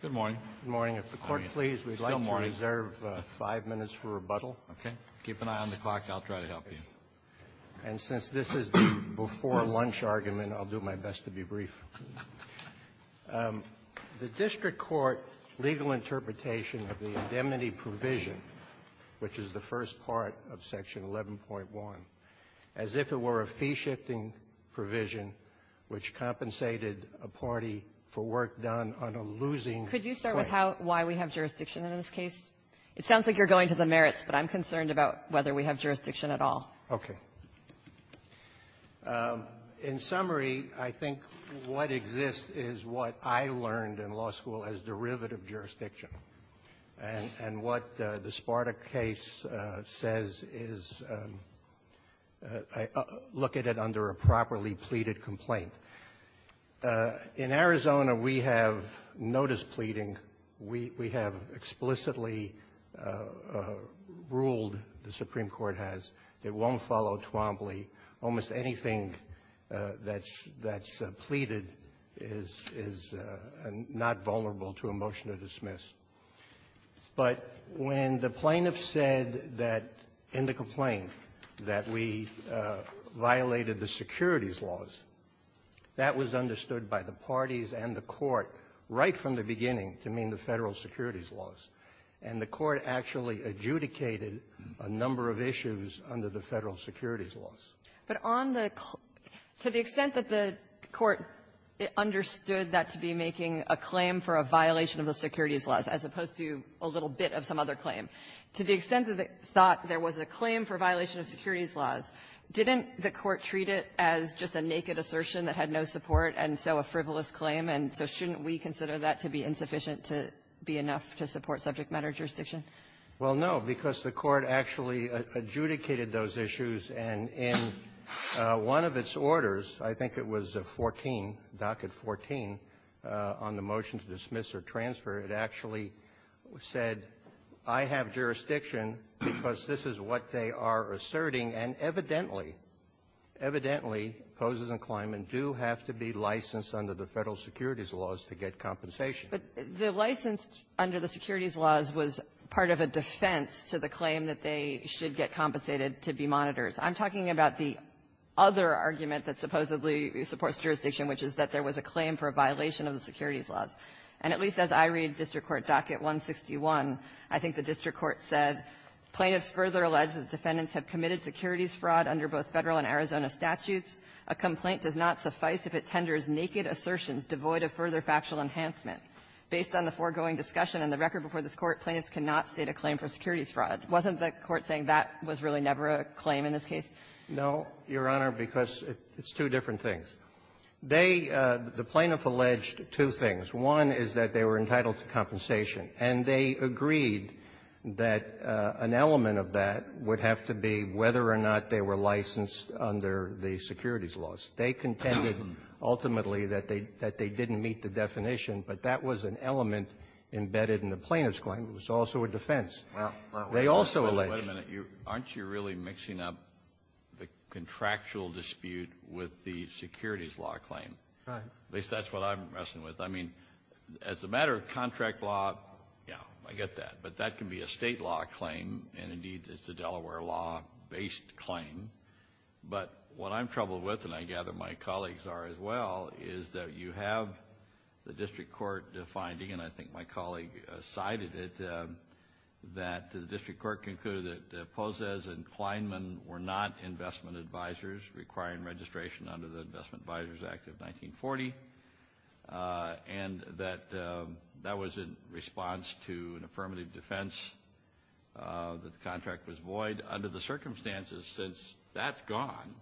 Good morning. Good morning. If the Court please, we'd like to reserve five minutes for rebuttal. Okay. Keep an eye on the clock. I'll try to help you. And since this is the before-lunch argument, I'll do my best to be brief. The district court legal interpretation of the indemnity provision, which is the first part of Section 11.1, as if it were a fee-shifting provision which compensated a party for work done on a losing claim. Could you start with how why we have jurisdiction in this case? It sounds like you're going to the merits, but I'm concerned about whether we have jurisdiction at all. Okay. In summary, I think what exists is what I learned in law school as derivative jurisdiction. And what the Sparta case says is look at it under a properly pleaded complaint. In Arizona, we have notice pleading. We have explicitly ruled, the Supreme Court has, it won't follow Twombly. Almost anything that's pleaded is not vulnerable to a motion to dismiss. But when the plaintiff said that in the complaint that we violated the securities laws, that was understood by the parties and the Court right from the beginning to mean the Federal securities laws. And the Court actually adjudicated a number of issues under the Federal securities laws. But on the claim, to the extent that the Court understood that to be making a claim for a violation of the securities laws, as opposed to a little bit of some other claim, to the extent that it thought there was a claim for violation of securities laws, didn't the Court treat it as just a naked assertion that had no support and so a frivolous claim? And so shouldn't we consider that to be insufficient to be enough to support subject matter jurisdiction? Well, no, because the Court actually adjudicated those issues. And in one of its orders, I think it was 14, docket 14, on the motion to dismiss or transfer, it actually said, I have jurisdiction because this is what they are asserting, and evidently, evidently, poses a claim and do have to be licensed under the Federal securities laws to get compensation. But the license under the securities laws was part of a defense to the claim that they should get compensated to be monitors. I'm talking about the other argument that supposedly supports jurisdiction, which is that there was a claim for a violation of the securities laws. And at least as I read District Court docket 161, I think the District Court said, Plaintiffs further allege that defendants have committed securities fraud under both Federal and Arizona statutes. A complaint does not suffice if it tenders naked assertions devoid of further factual enhancement. Based on the foregoing discussion in the record before this Court, plaintiffs cannot state a claim for securities fraud. Wasn't the Court saying that was really never a claim in this case? No, Your Honor, because it's two different things. They — the plaintiff alleged two things. One is that they were entitled to compensation. And they agreed that an element of that would have to be whether or not they were licensed under the securities laws. And the other element embedded in the plaintiff's claim was also a defense. They also alleged — Wait a minute. Aren't you really mixing up the contractual dispute with the securities law claim? Right. At least that's what I'm wrestling with. I mean, as a matter of contract law, yeah, I get that. But that can be a state law claim. And indeed, it's a Delaware law-based claim. But what I'm troubled with, and I gather my colleagues are as well, is that you have the district court finding, and I think my colleague cited it, that the district court concluded that Pozes and Kleinman were not investment advisors requiring registration under the Investment Advisors Act of 1940, and that that was in response to an affirmative defense that the contract was void. Under the circumstances, since that's gone,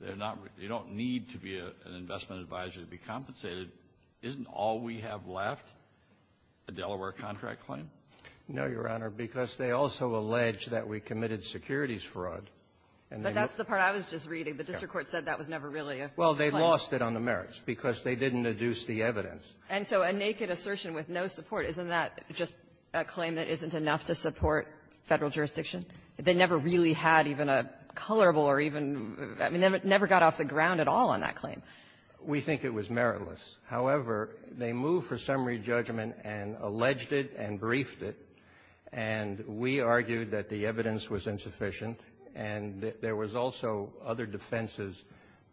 they're not — you don't need to be an investment advisor to be compensated. Isn't all we have left a Delaware contract claim? No, Your Honor, because they also allege that we committed securities fraud. And they — But that's the part I was just reading. The district court said that was never really a claim. Well, they lost it on the merits because they didn't deduce the evidence. And so a naked assertion with no support, isn't that just a claim that isn't enough to support Federal jurisdiction? They never really had even a colorable or even — I mean, we think it was meritless. However, they moved for summary judgment and alleged it and briefed it. And we argued that the evidence was insufficient. And there was also other defenses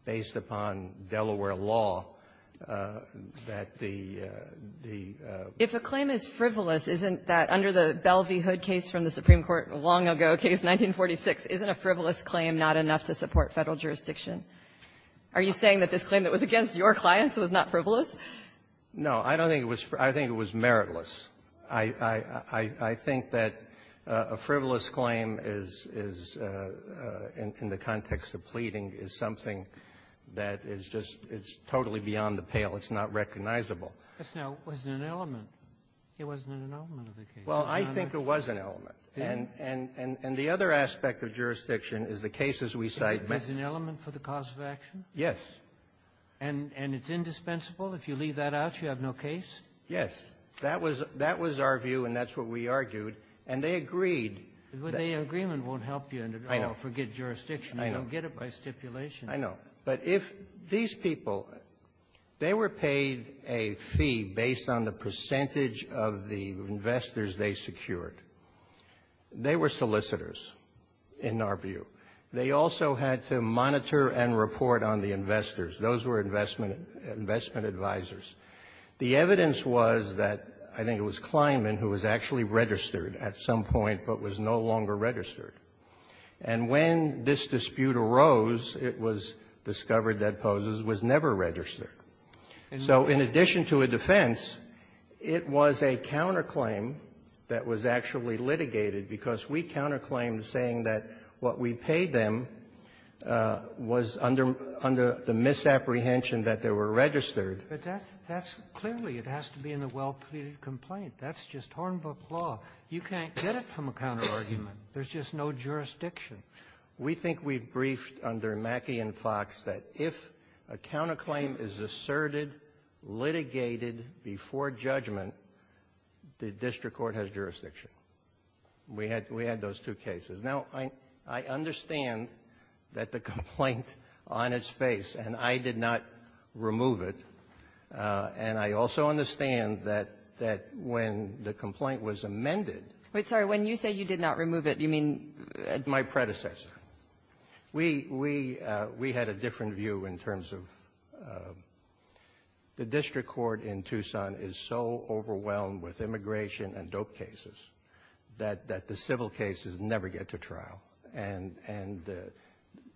based upon Delaware law that the — If a claim is frivolous, isn't that, under the Belle v. Hood case from the Supreme Court long ago, case 1946, isn't a frivolous claim not enough to support Federal jurisdiction? Are you saying that this claim that was against your clients was not frivolous? No. I don't think it was — I think it was meritless. I — I think that a frivolous claim is — is, in the context of pleading, is something that is just — it's totally beyond the pale. It's not recognizable. But, no, it wasn't an element. It wasn't an element of the case. Well, I think it was an element. And — and — and the other aspect of jurisdiction is the cases we cite — Is it an element for the cause of action? Yes. And — and it's indispensable? If you leave that out, you have no case? Yes. That was — that was our view, and that's what we argued. And they agreed that — But the agreement won't help you in the — I know. — forget jurisdiction. I know. You don't get it by stipulation. I know. But if these people, they were paid a fee based on the percentage of the investors they secured. They were solicitors, in our view. They also had to monitor and report on the investors. Those were investment — investment advisors. The evidence was that — I think it was Kleinman, who was actually registered at some point, but was no longer registered. And when this dispute arose, it was discovered that Pozes was never registered. And so, in addition to a defense, it was a counterclaim that was actually litigated, because we counterclaimed, saying that what we paid them was under — under the misapprehension that they were registered. But that's — that's — clearly, it has to be in a well-pleaded complaint. That's just Hornbook law. You can't get it from a counterargument. There's just no jurisdiction. We think we've briefed under Mackey and Fox that if a counterclaim is asserted, litigated before judgment, the district court has jurisdiction. We had — we had those two cases. Now, I — I understand that the complaint on its face, and I did not remove it. And I also understand that — that when the complaint was amended — But, sorry, when you say you did not remove it, you mean — My predecessor. We — we — we had a different view in terms of — the district court in Tucson is so overwhelmed with immigration and dope cases that — that the civil cases never get to trial. And — and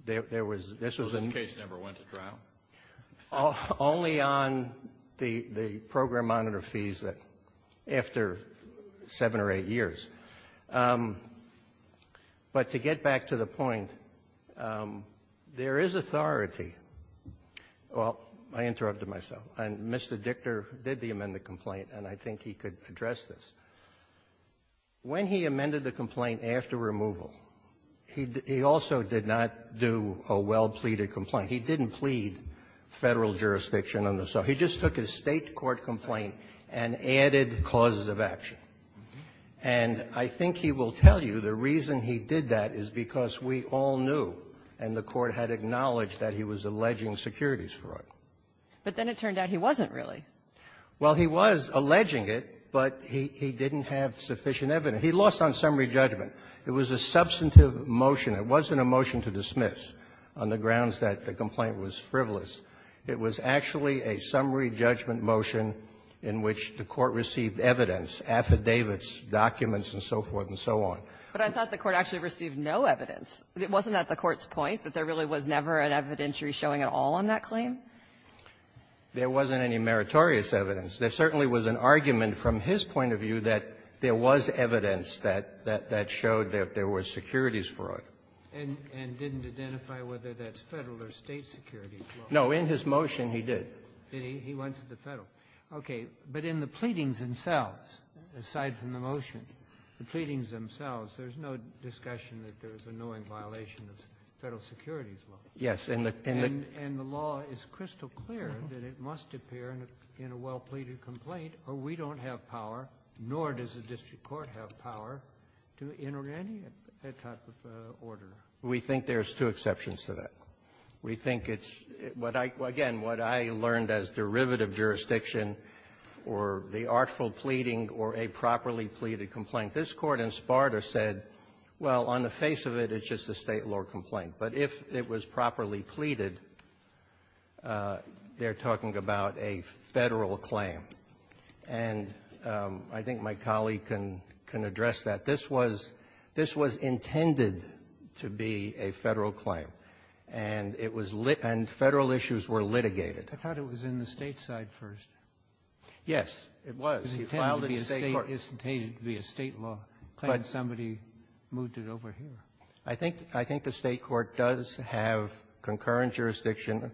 there was — this was a — So this case never went to trial? Only on the — the program monitor fees that — after seven or eight years. But to get back to the point, there is authority — well, I interrupted myself. And Mr. Dichter did the amended complaint, and I think he could address this. When he amended the complaint after removal, he — he also did not do a well-pleaded complaint. He didn't plead Federal jurisdiction on the — so he just took a State court complaint and added causes of action. And I think he will tell you the reason he did that is because we all knew, and the Court had acknowledged that he was alleging securities fraud. But then it turned out he wasn't, really. Well, he was alleging it, but he — he didn't have sufficient evidence. He lost on summary judgment. It was a substantive motion. It wasn't a motion to dismiss on the grounds that the complaint was frivolous. It was actually a summary judgment motion in which the Court received evidence, affidavits, documents, and so forth and so on. But I thought the Court actually received no evidence. Wasn't that the Court's point, that there really was never an evidentiary showing at all on that claim? There wasn't any meritorious evidence. There certainly was an argument from his point of view that there was evidence that — that — that showed that there were securities fraud. And — and didn't identify whether that's Federal or State security fraud. No. In his motion, he did. Did he? He went to the Federal. Okay. But in the pleadings themselves, aside from the motion, the pleadings themselves, there's no discussion that there's a knowing violation of Federal securities law. Yes. And the — and the — And the law is crystal clear that it must appear in a — in a well-pleaded complaint, or we don't have power, nor does the district court have power, to enter any type of order. We think there's two exceptions to that. We think it's — what I — again, what I learned as derivative jurisdiction or the artful pleading or a properly pleaded complaint, this Court in Sparta said, well, on the face of it, it's just a State law complaint. But if it was properly pleaded, they're talking about a Federal claim. And I think my colleague can — can address that. This was — this was intended to be a Federal claim. And it was lit — and Federal issues were litigated. I thought it was in the State side first. Yes. It was. It was filed in the State court. It's intended to be a State law. But somebody moved it over here. I think — I think the State court does have concurrent jurisdiction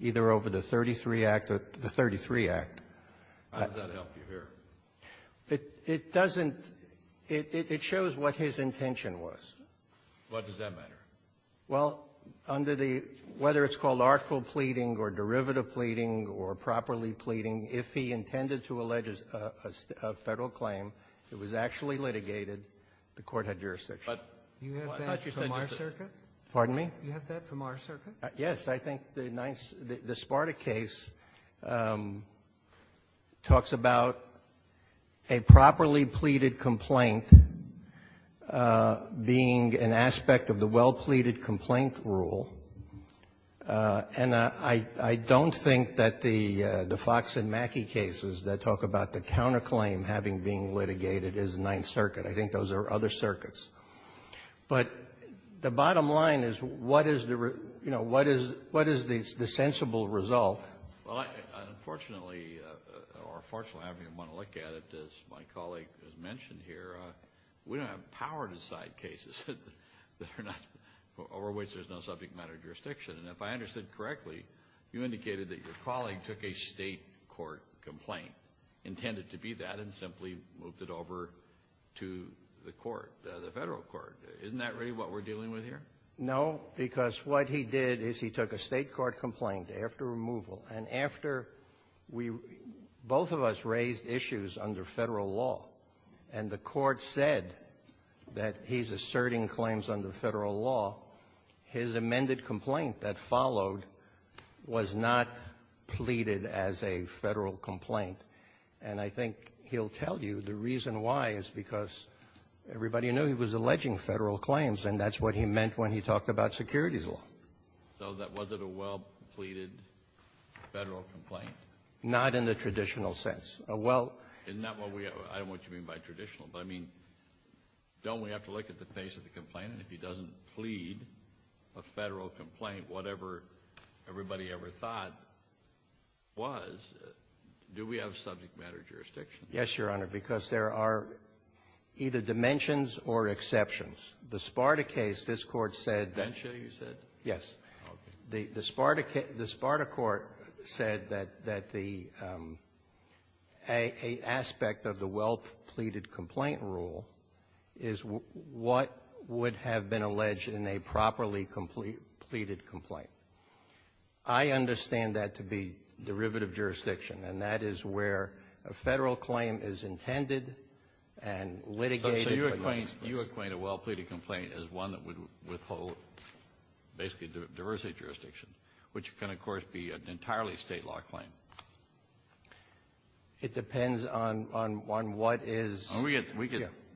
either over the 33 Act or the 33 Act. How does that help you here? It — it doesn't — it — it shows what his intention was. What does that matter? Well, under the — whether it's called artful pleading or derivative pleading or properly pleading, if he intended to allege a — a Federal claim, it was actually litigated. The Court had jurisdiction. But I thought you said — Do you have that from our circuit? Pardon me? Do you have that from our circuit? Yes. I think the Sparta case talks about a properly pleaded complaint being an aspect of the well-pleaded complaint rule. And I — I don't think that the — the Fox and Mackey cases that talk about the counterclaim having been litigated is Ninth Circuit. I think those are other circuits. But the bottom line is, what is the — you know, what is — what is the sensible result? Well, I — unfortunately, or fortunately, however you want to look at it, as my colleague has mentioned here, we don't have power-to-side cases. They're not — over which there's no subject matter jurisdiction. And if I understood correctly, you indicated that your colleague took a state court complaint, intended to be that, and simply moved it over to the court, the Federal court. Isn't that really what we're dealing with here? No, because what he did is he took a state court complaint after removal. And after we — both of us raised issues under Federal law. And the court said that he's asserting claims under Federal law. His amended complaint that followed was not pleaded as a Federal complaint. And I think he'll tell you the reason why is because everybody knew he was alleging Federal claims. And that's what he meant when he talked about securities law. So that wasn't a well-pleaded Federal complaint? Not in the traditional sense. Well — Isn't that what we — I don't know what you mean by traditional. But, I mean, don't we have to look at the face of the complaint? And if he doesn't plead a Federal complaint, whatever everybody ever thought was, do we have subject matter jurisdiction? Yes, Your Honor, because there are either dimensions or exceptions. The Sparta case, this Court said — Densha, you said? Yes. Okay. The Sparta court said that the — an aspect of the well-pleaded complaint rule is what would have been alleged in a properly pleaded complaint. I understand that to be derivative jurisdiction. And that is where a Federal claim is intended and litigated. So you equate a well-pleaded complaint as one that would withhold, basically, a diversity jurisdiction, which can, of course, be an entirely State law claim. It depends on what is — We get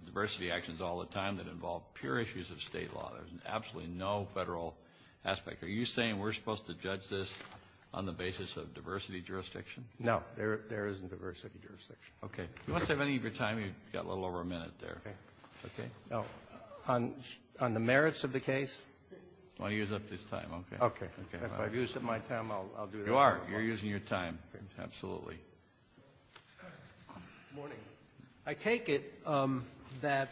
diversity actions all the time that involve pure issues of State law. There's absolutely no Federal aspect. Are you saying we're supposed to judge this on the basis of diversity jurisdiction? No. There isn't diversity jurisdiction. Okay. If you want to save any of your time, you've got a little over a minute there. Okay. Okay. Now, on the merits of the case? I want to use up this time. Okay. Okay. Okay. If I've used up my time, I'll do that. You are. You're using your time. Absolutely. Good morning. I take it that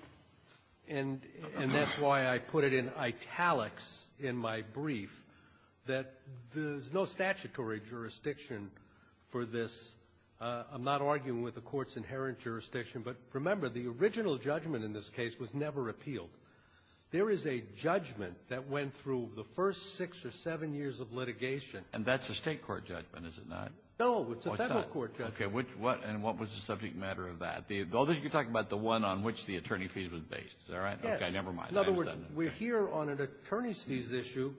— and that's why I put it in italics in my brief — that there's no statutory jurisdiction for this. I'm not arguing with the court's inherent jurisdiction. But remember, the original judgment in this case was never appealed. There is a judgment that went through the first six or seven years of litigation. And that's a State court judgment, is it not? No, it's a Federal court judgment. Okay. And what was the subject matter of that? Although you're talking about the one on which the attorney fee was based, is that right? Okay. Never mind. In other words, we're here on an attorney's fees issue,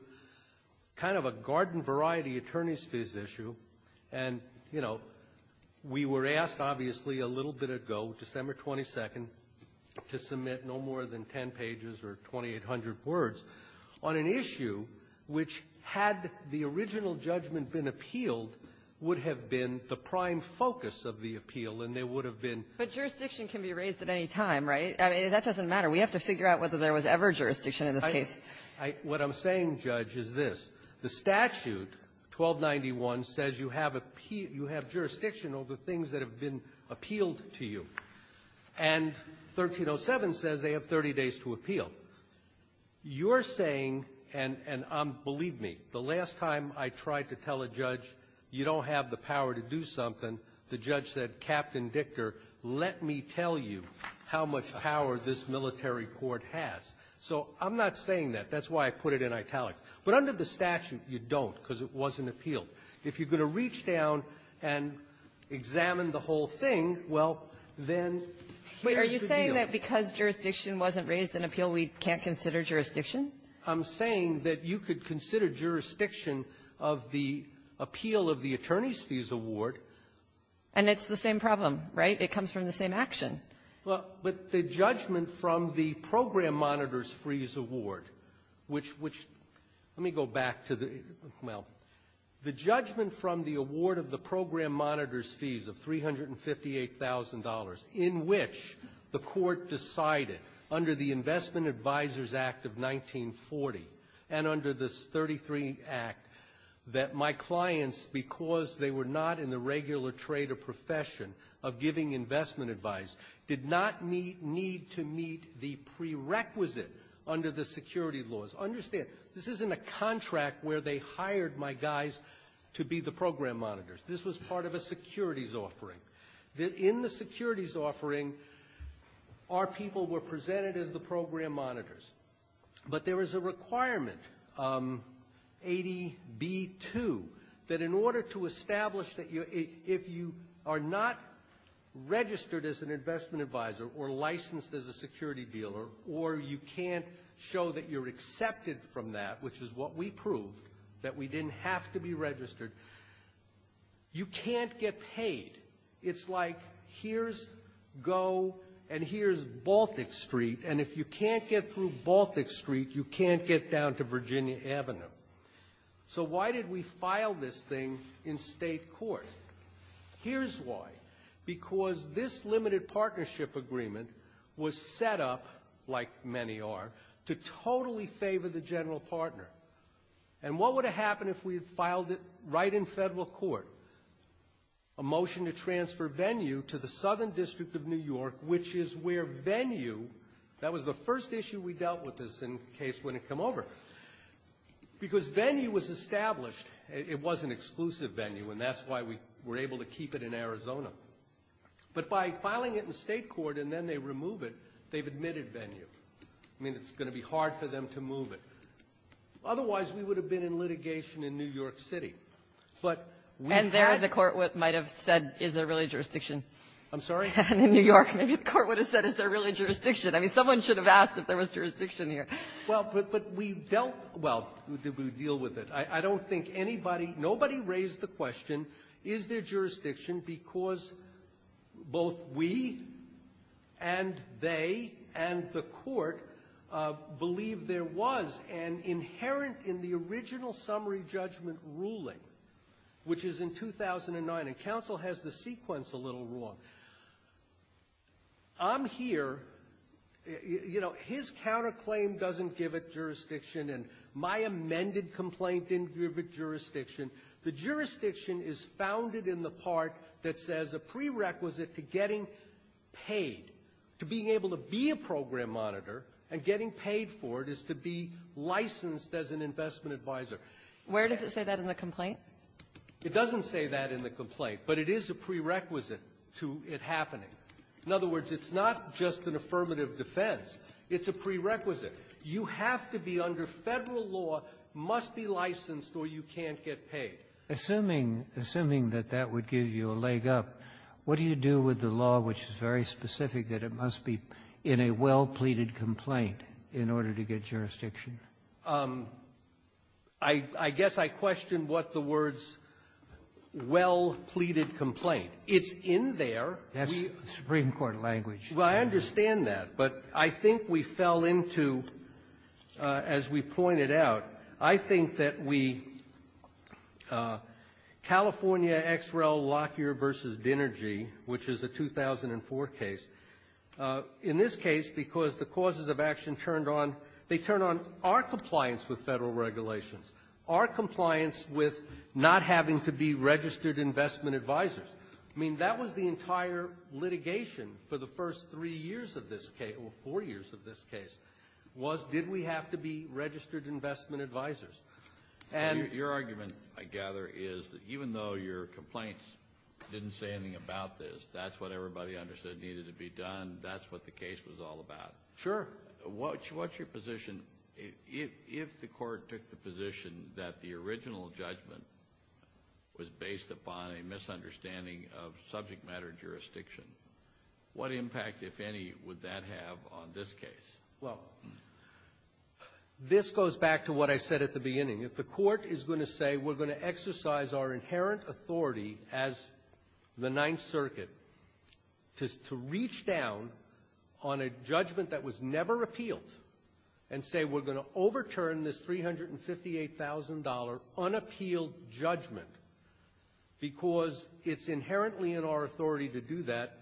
kind of a garden-variety attorney's fees issue. And, you know, we were asked, obviously, a little bit ago, December 22nd, to submit no more than 10 pages or 2,800 words on an issue which, had the original judgment been appealed, would have been the prime focus of the appeal, and there would have been — But jurisdiction can be raised at any time, right? I mean, that doesn't matter. We have to figure out whether there was ever jurisdiction in this case. What I'm saying, Judge, is this. The statute, 1291, says you have jurisdiction over things that have been appealed to you. And 1307 says they have 30 days to appeal. You're saying — and believe me, the last time I tried to tell a judge, you don't have the power to do something, the judge said, Captain Dicker, let me tell you how much power this military court has. So I'm not saying that. That's why I put it in italics. But under the statute, you don't, because it wasn't appealed. If you're going to reach down and examine the whole thing, well, then here's the deal. Wait. Are you saying that because jurisdiction wasn't raised in appeal, we can't consider jurisdiction? I'm saying that you could consider jurisdiction of the appeal of the attorney's fees award. And it's the same problem, right? It comes from the same action. Well, but the judgment from the program monitor's fees award, which — let me go back to the — well, the judgment from the award of the program monitor's fees of $358,000, in which the Court decided, under the Investment Advisors Act of 1940 and under this 33 Act, that my clients, because they were not in the regular trade or profession of giving investment advice, did not need to meet the prerequisite under the security laws. Understand, this isn't a contract where they hired my guys to be the program monitors. This was part of a securities offering. In the securities offering, our people were presented as the program monitors. But there is a requirement, ADB 2, that in order to establish that you — if you are not registered as an investment advisor, or licensed as a security dealer, or you can't show that you're accepted from that, which is what we proved, that we didn't have to be registered, you can't get paid. It's like, here's GO and here's Baltic Street, and if you can't get through Baltic Street, you can't get down to Virginia Avenue. So why did we file this thing in state court? Here's why. Because this limited partnership agreement was set up, like many are, to totally favor the general partner. And what would have happened if we had filed it right in federal court? A motion to transfer venue to the Southern District of New York, which is where venue — that was the first issue we dealt with this in case wouldn't come over. Because venue was established — it was an exclusive venue, and that's why we were able to keep it in Arizona. But by filing it in state court and then they remove it, they've admitted venue. I mean, it's going to be hard for them to move it. Otherwise, we would have been in litigation in New York City. But we had — And there the court might have said, is there really jurisdiction? I'm sorry? In New York, maybe the court would have said, is there really jurisdiction? I mean, someone should have asked if there was jurisdiction here. Well, but we dealt — well, we deal with it. I don't think anybody — nobody raised the question, is there jurisdiction? Because both we and they and the court believe there was, and inherent in the original summary judgment ruling, which is in 2009 — and counsel has the sequence a little long — I'm here — you know, his counterclaim doesn't give it jurisdiction, and my amended complaint didn't give it jurisdiction. The jurisdiction is founded in the part that says a prerequisite to getting paid, to being able to be a program monitor, and getting paid for it is to be licensed as an investment advisor. Where does it say that in the complaint? It doesn't say that in the complaint, but it is a prerequisite to it happening. In other words, it's not just an affirmative defense. It's a prerequisite. You have to be under Federal law, must be licensed, or you can't get paid. Assuming — assuming that that would give you a leg up, what do you do with the law, which is very specific, that it must be in a well-pleaded complaint in order to get jurisdiction? I guess I question what the words, well-pleaded complaint. It's in there. That's the Supreme Court language. Well, I understand that. But I think we fell into, as we pointed out, I think that we — California X. Rel. Lockyer v. Dinergy, which is a 2004 case. In this case, because the causes of action turned on — they turned on our compliance with Federal regulations, our compliance with not having to be registered investment advisors. I mean, that was the entire litigation for the first three years of this case — or four years of this case, was did we have to be registered investment advisors. And — Your argument, I gather, is that even though your complaints didn't say anything about this, that's what everybody understood needed to be done. That's what the case was all about. Sure. What's your position, if the court took the position that the original judgment was based upon a misunderstanding of subject matter jurisdiction, what impact, if any, would that have on this case? Well, this goes back to what I said at the beginning. If the court is going to say we're going to exercise our inherent authority as the judge of the Ninth Circuit to — to reach down on a judgment that was never appealed and say we're going to overturn this $358,000 unappealed judgment because it's inherently in our authority to do that,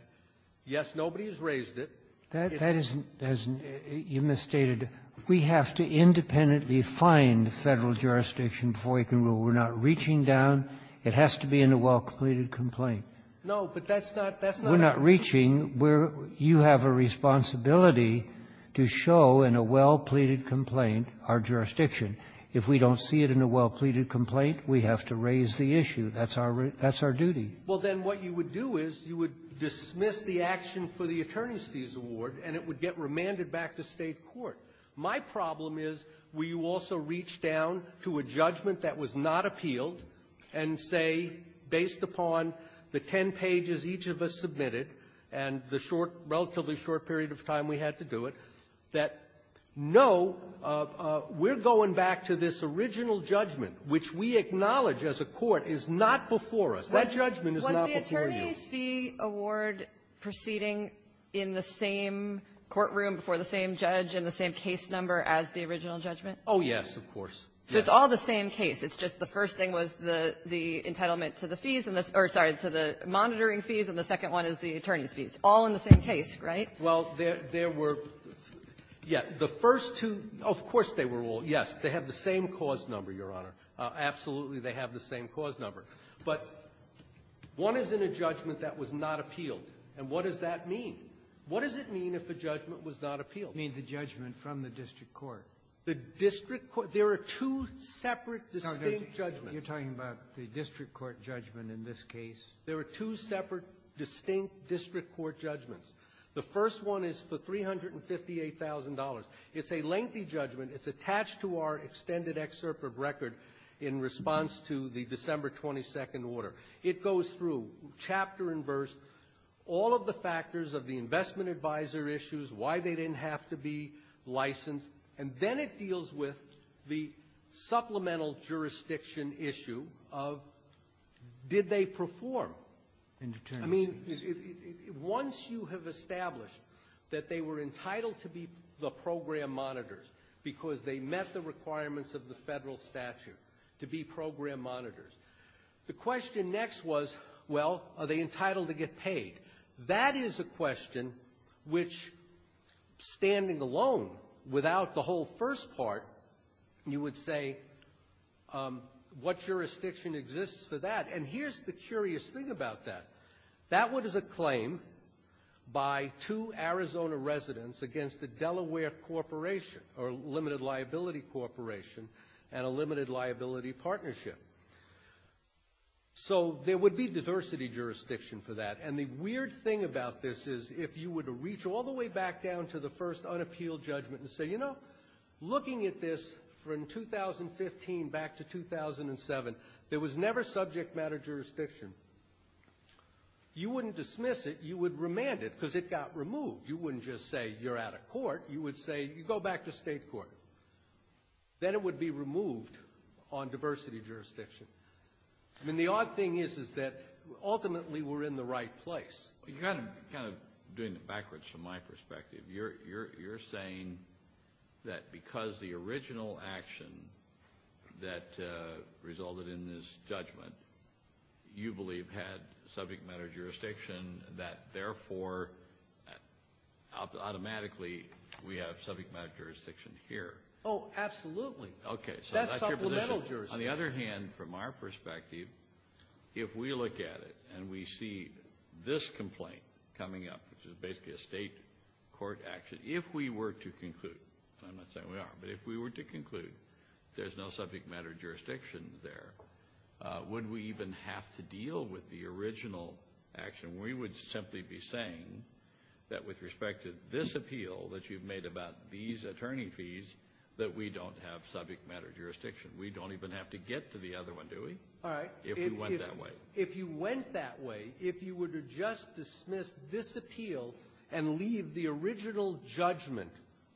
yes, nobody has raised it, it's — That — that isn't — as you misstated, we have to independently find Federal jurisdiction before we can rule. We're not reaching down. It has to be in a well-completed complaint. No, but that's not — that's not — We're not reaching. We're — you have a responsibility to show in a well-pleaded complaint our jurisdiction. If we don't see it in a well-pleaded complaint, we have to raise the issue. That's our — that's our duty. Well, then what you would do is you would dismiss the action for the attorneys' fees award, and it would get remanded back to State court. My problem is will you also reach down to a judgment that was not appealed and say, based upon the ten pages each of us submitted and the short, relatively short period of time we had to do it, that, no, we're going back to this original judgment, which we acknowledge as a court is not before us. That judgment is not before you. Was the attorneys' fee award proceeding in the same courtroom before the same judge and the same case number as the original judgment? Oh, yes, of course. So it's all the same case. It's just the first thing was the — the entitlement to the fees and the — or, sorry, to the monitoring fees, and the second one is the attorneys' fees. All in the same case, right? Well, there — there were — yeah. The first two — of course they were all — yes. They have the same cause number, Your Honor. Absolutely, they have the same cause number. But one is in a judgment that was not appealed. And what does that mean? What does it mean if a judgment was not appealed? You mean the judgment from the district court? The district court. There are two separate, distinct judgments. You're talking about the district court judgment in this case? There are two separate, distinct district court judgments. The first one is for $358,000. It's a lengthy judgment. It's attached to our extended excerpt of record in response to the December 22nd order. It goes through, chapter and verse, all of the factors of the investment advisor issues, why they didn't have to be licensed. And then it deals with the supplemental jurisdiction issue of did they perform? In deterrence. I mean, once you have established that they were entitled to be the program monitors because they met the requirements of the federal statute to be program monitors, the question next was, well, are they entitled to get paid? That is a question which, standing alone, without the whole first part, you would say, what jurisdiction exists for that? And here's the curious thing about that. That one is a claim by two Arizona residents against the Delaware Corporation, or Limited Liability Corporation, and a limited liability partnership. So there would be diversity jurisdiction for that. And the weird thing about this is, if you were to reach all the way back down to the first unappealed judgment and say, you know, looking at this from 2015 back to 2007, there was never subject matter jurisdiction, you wouldn't dismiss it. You would remand it, because it got removed. You wouldn't just say, you're out of court. You would say, you go back to state court. Then it would be removed on diversity jurisdiction. I mean, the odd thing is, is that ultimately we're in the right place. You're kind of doing it backwards from my perspective. You're saying that because the original action that resulted in this judgment, you believe had subject matter jurisdiction, that therefore, automatically, we have subject matter jurisdiction here. Oh, absolutely. Okay. That's supplemental jurisdiction. On the other hand, from our perspective, if we look at it and we see this complaint coming up, which is basically a state court action, if we were to conclude, and I'm not saying we are, but if we were to conclude there's no subject matter jurisdiction there, would we even have to deal with the original action? We would simply be saying that with respect to this appeal that you've made about these attorney fees, that we don't have subject matter jurisdiction. We don't even have to get to the other one, do we? All right. If we went that way. If you went that way, if you were to just dismiss this appeal and leave the original judgment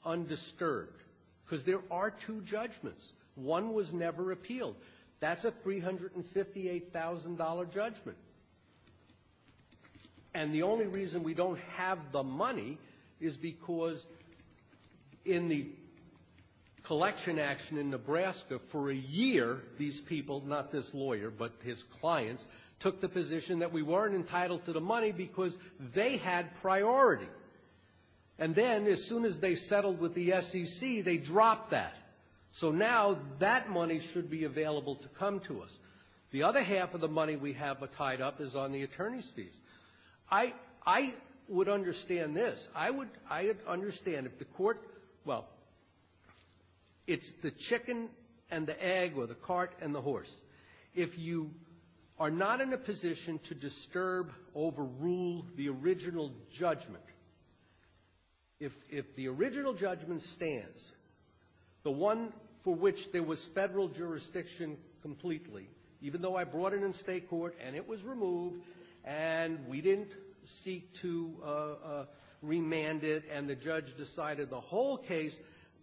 undisturbed, because there are two judgments. One was never appealed. That's a $358,000 judgment. And the only reason we don't have the money is because in the collection action in Nebraska for a year, these people, not this lawyer, but his clients, took the position that we weren't entitled to the money because they had priority. And then as soon as they settled with the SEC, they dropped that. So now that money should be available to come to us. The other half of the money we have tied up is on the attorney's fees. I would understand this. I would understand if the court, well, it's the chicken and the egg or the cart and the horse. If you are not in a position to disturb, overrule the original judgment, if the original judgment stands, the one for which there was federal jurisdiction completely, even though I brought it in state court and it was removed and we didn't seek to remand it. And the judge decided the whole case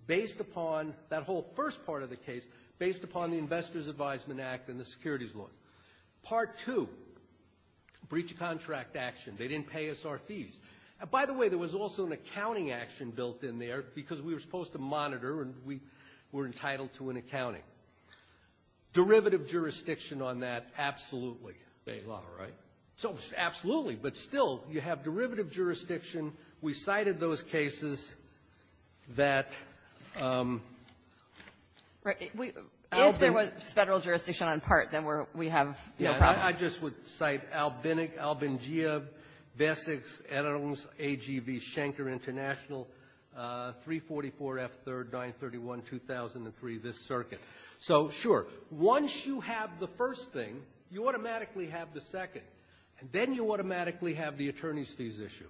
based upon, that whole first part of the case, based upon the Investor's Advisement Act and the securities law. Part two, breach of contract action. They didn't pay us our fees. And by the way, there was also an accounting action built in there because we were supposed to monitor and we were entitled to an accounting. Derivative jurisdiction on that, absolutely, they law, right? So absolutely, but still, you have derivative jurisdiction. We cited those cases that we all been If there was federal jurisdiction on part, then we're, we have no problem. I just would cite Albinic, Albingia, Bessex, Adams, AGV, Schenker International, 344F3rd, 931, 2003, this circuit. So sure, once you have the first thing, you automatically have the second. And then you automatically have the attorney's fees issue.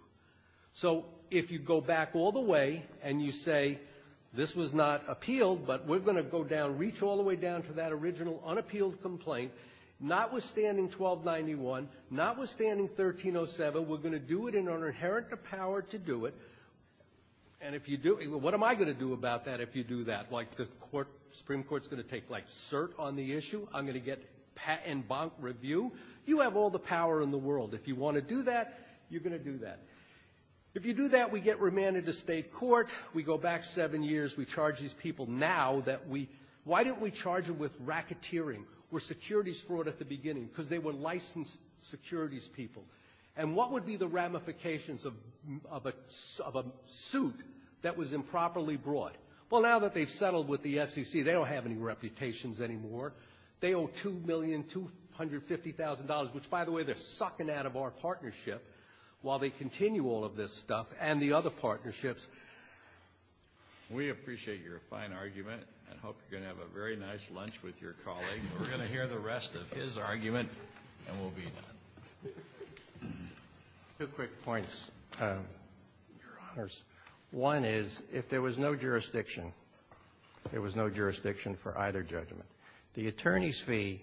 So if you go back all the way and you say, this was not appealed, but we're going to go down, reach all the way down to that original unappealed complaint, notwithstanding 1291, notwithstanding 1307, we're going to do it in our inherent power to do it. And if you do, what am I going to do about that if you do that? Like the court, Supreme Court's going to take like cert on the issue. I'm going to get patent bonk review. You have all the power in the world. If you want to do that, you're going to do that. If you do that, we get remanded to state court. We go back seven years. We charge these people now that we, why don't we charge them with racketeering? Were securities fraud at the beginning? Because they were licensed securities people. And what would be the ramifications of a suit that was improperly brought? Well, now that they've settled with the SEC, they don't have any reputations anymore. They owe $2,250,000, which by the way, they're sucking out of our partnership while they continue all of this stuff and the other partnerships. We appreciate your fine argument and hope you're going to have a very nice lunch with your colleague. We're going to hear the rest of his argument and we'll be done. Two quick points, Your Honors. One is, if there was no jurisdiction, there was no jurisdiction for either judgment. The attorney's fee,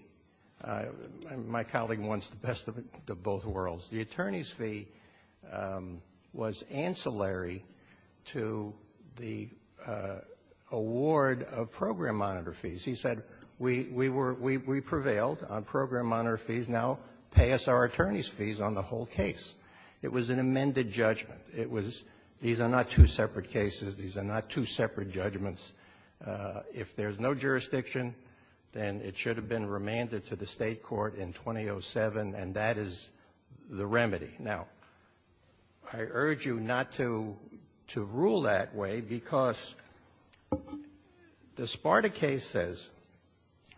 my colleague wants the best of both worlds. The attorney's fee was ancillary to the award of program monitor fees. He said, we prevailed on program monitor fees. Now pay us our attorney's fees on the whole case. It was an amended judgment. It was, these are not two separate cases. These are not two separate judgments. If there's no jurisdiction, then it should have been remanded to the State court in 2007. And that is the remedy. Now, I urge you not to rule that way because the Sparta case says,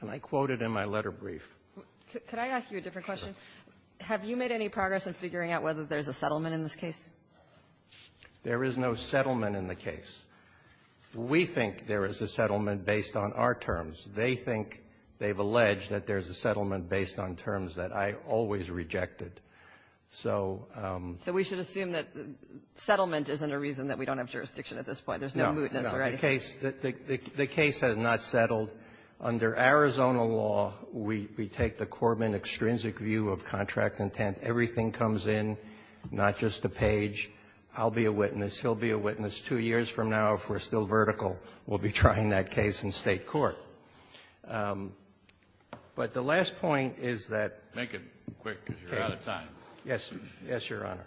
and I quote it in my letter brief. Could I ask you a different question? Have you made any progress in figuring out whether there's a settlement in this case? There is no settlement in the case. We think there is a settlement based on our terms. They think, they've alleged that there's a settlement based on terms that I always rejected. So we should assume that the settlement isn't a reason that we don't have jurisdiction at this point. There's no mootness already. The case has not settled. Under Arizona law, we take the Corbin extrinsic view of contract intent. Everything comes in, not just the page. I'll be a witness. He'll be a witness. Two years from now, if we're still vertical, we'll be trying that case in State court. But the last point is that the case is not a mootness, it's not a reason for a settlement. Kennedy. Kennedy. Yes. Yes, Your Honor.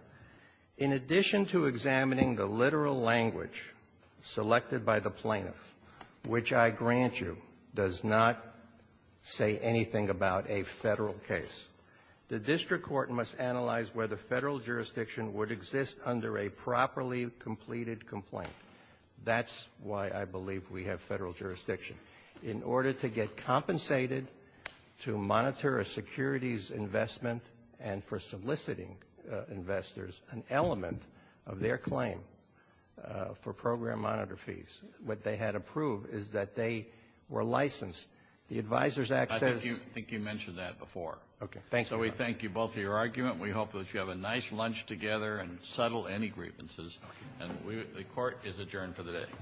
In addition to examining the literal language selected by the plaintiff, which I grant you, does not say anything about a federal case. The district court must analyze whether federal jurisdiction would exist under a properly completed complaint. That's why I believe we have federal jurisdiction. In order to get compensated to monitor a security's investment and for soliciting investors an element of their claim for program monitor fees, what they had approved is that they were licensed. The Advisor's Act says- I think you mentioned that before. Okay. Thank you, Your Honor. So we thank you both for your argument. We hope that you have a nice lunch together and settle any grievances. And the court is adjourned for the day.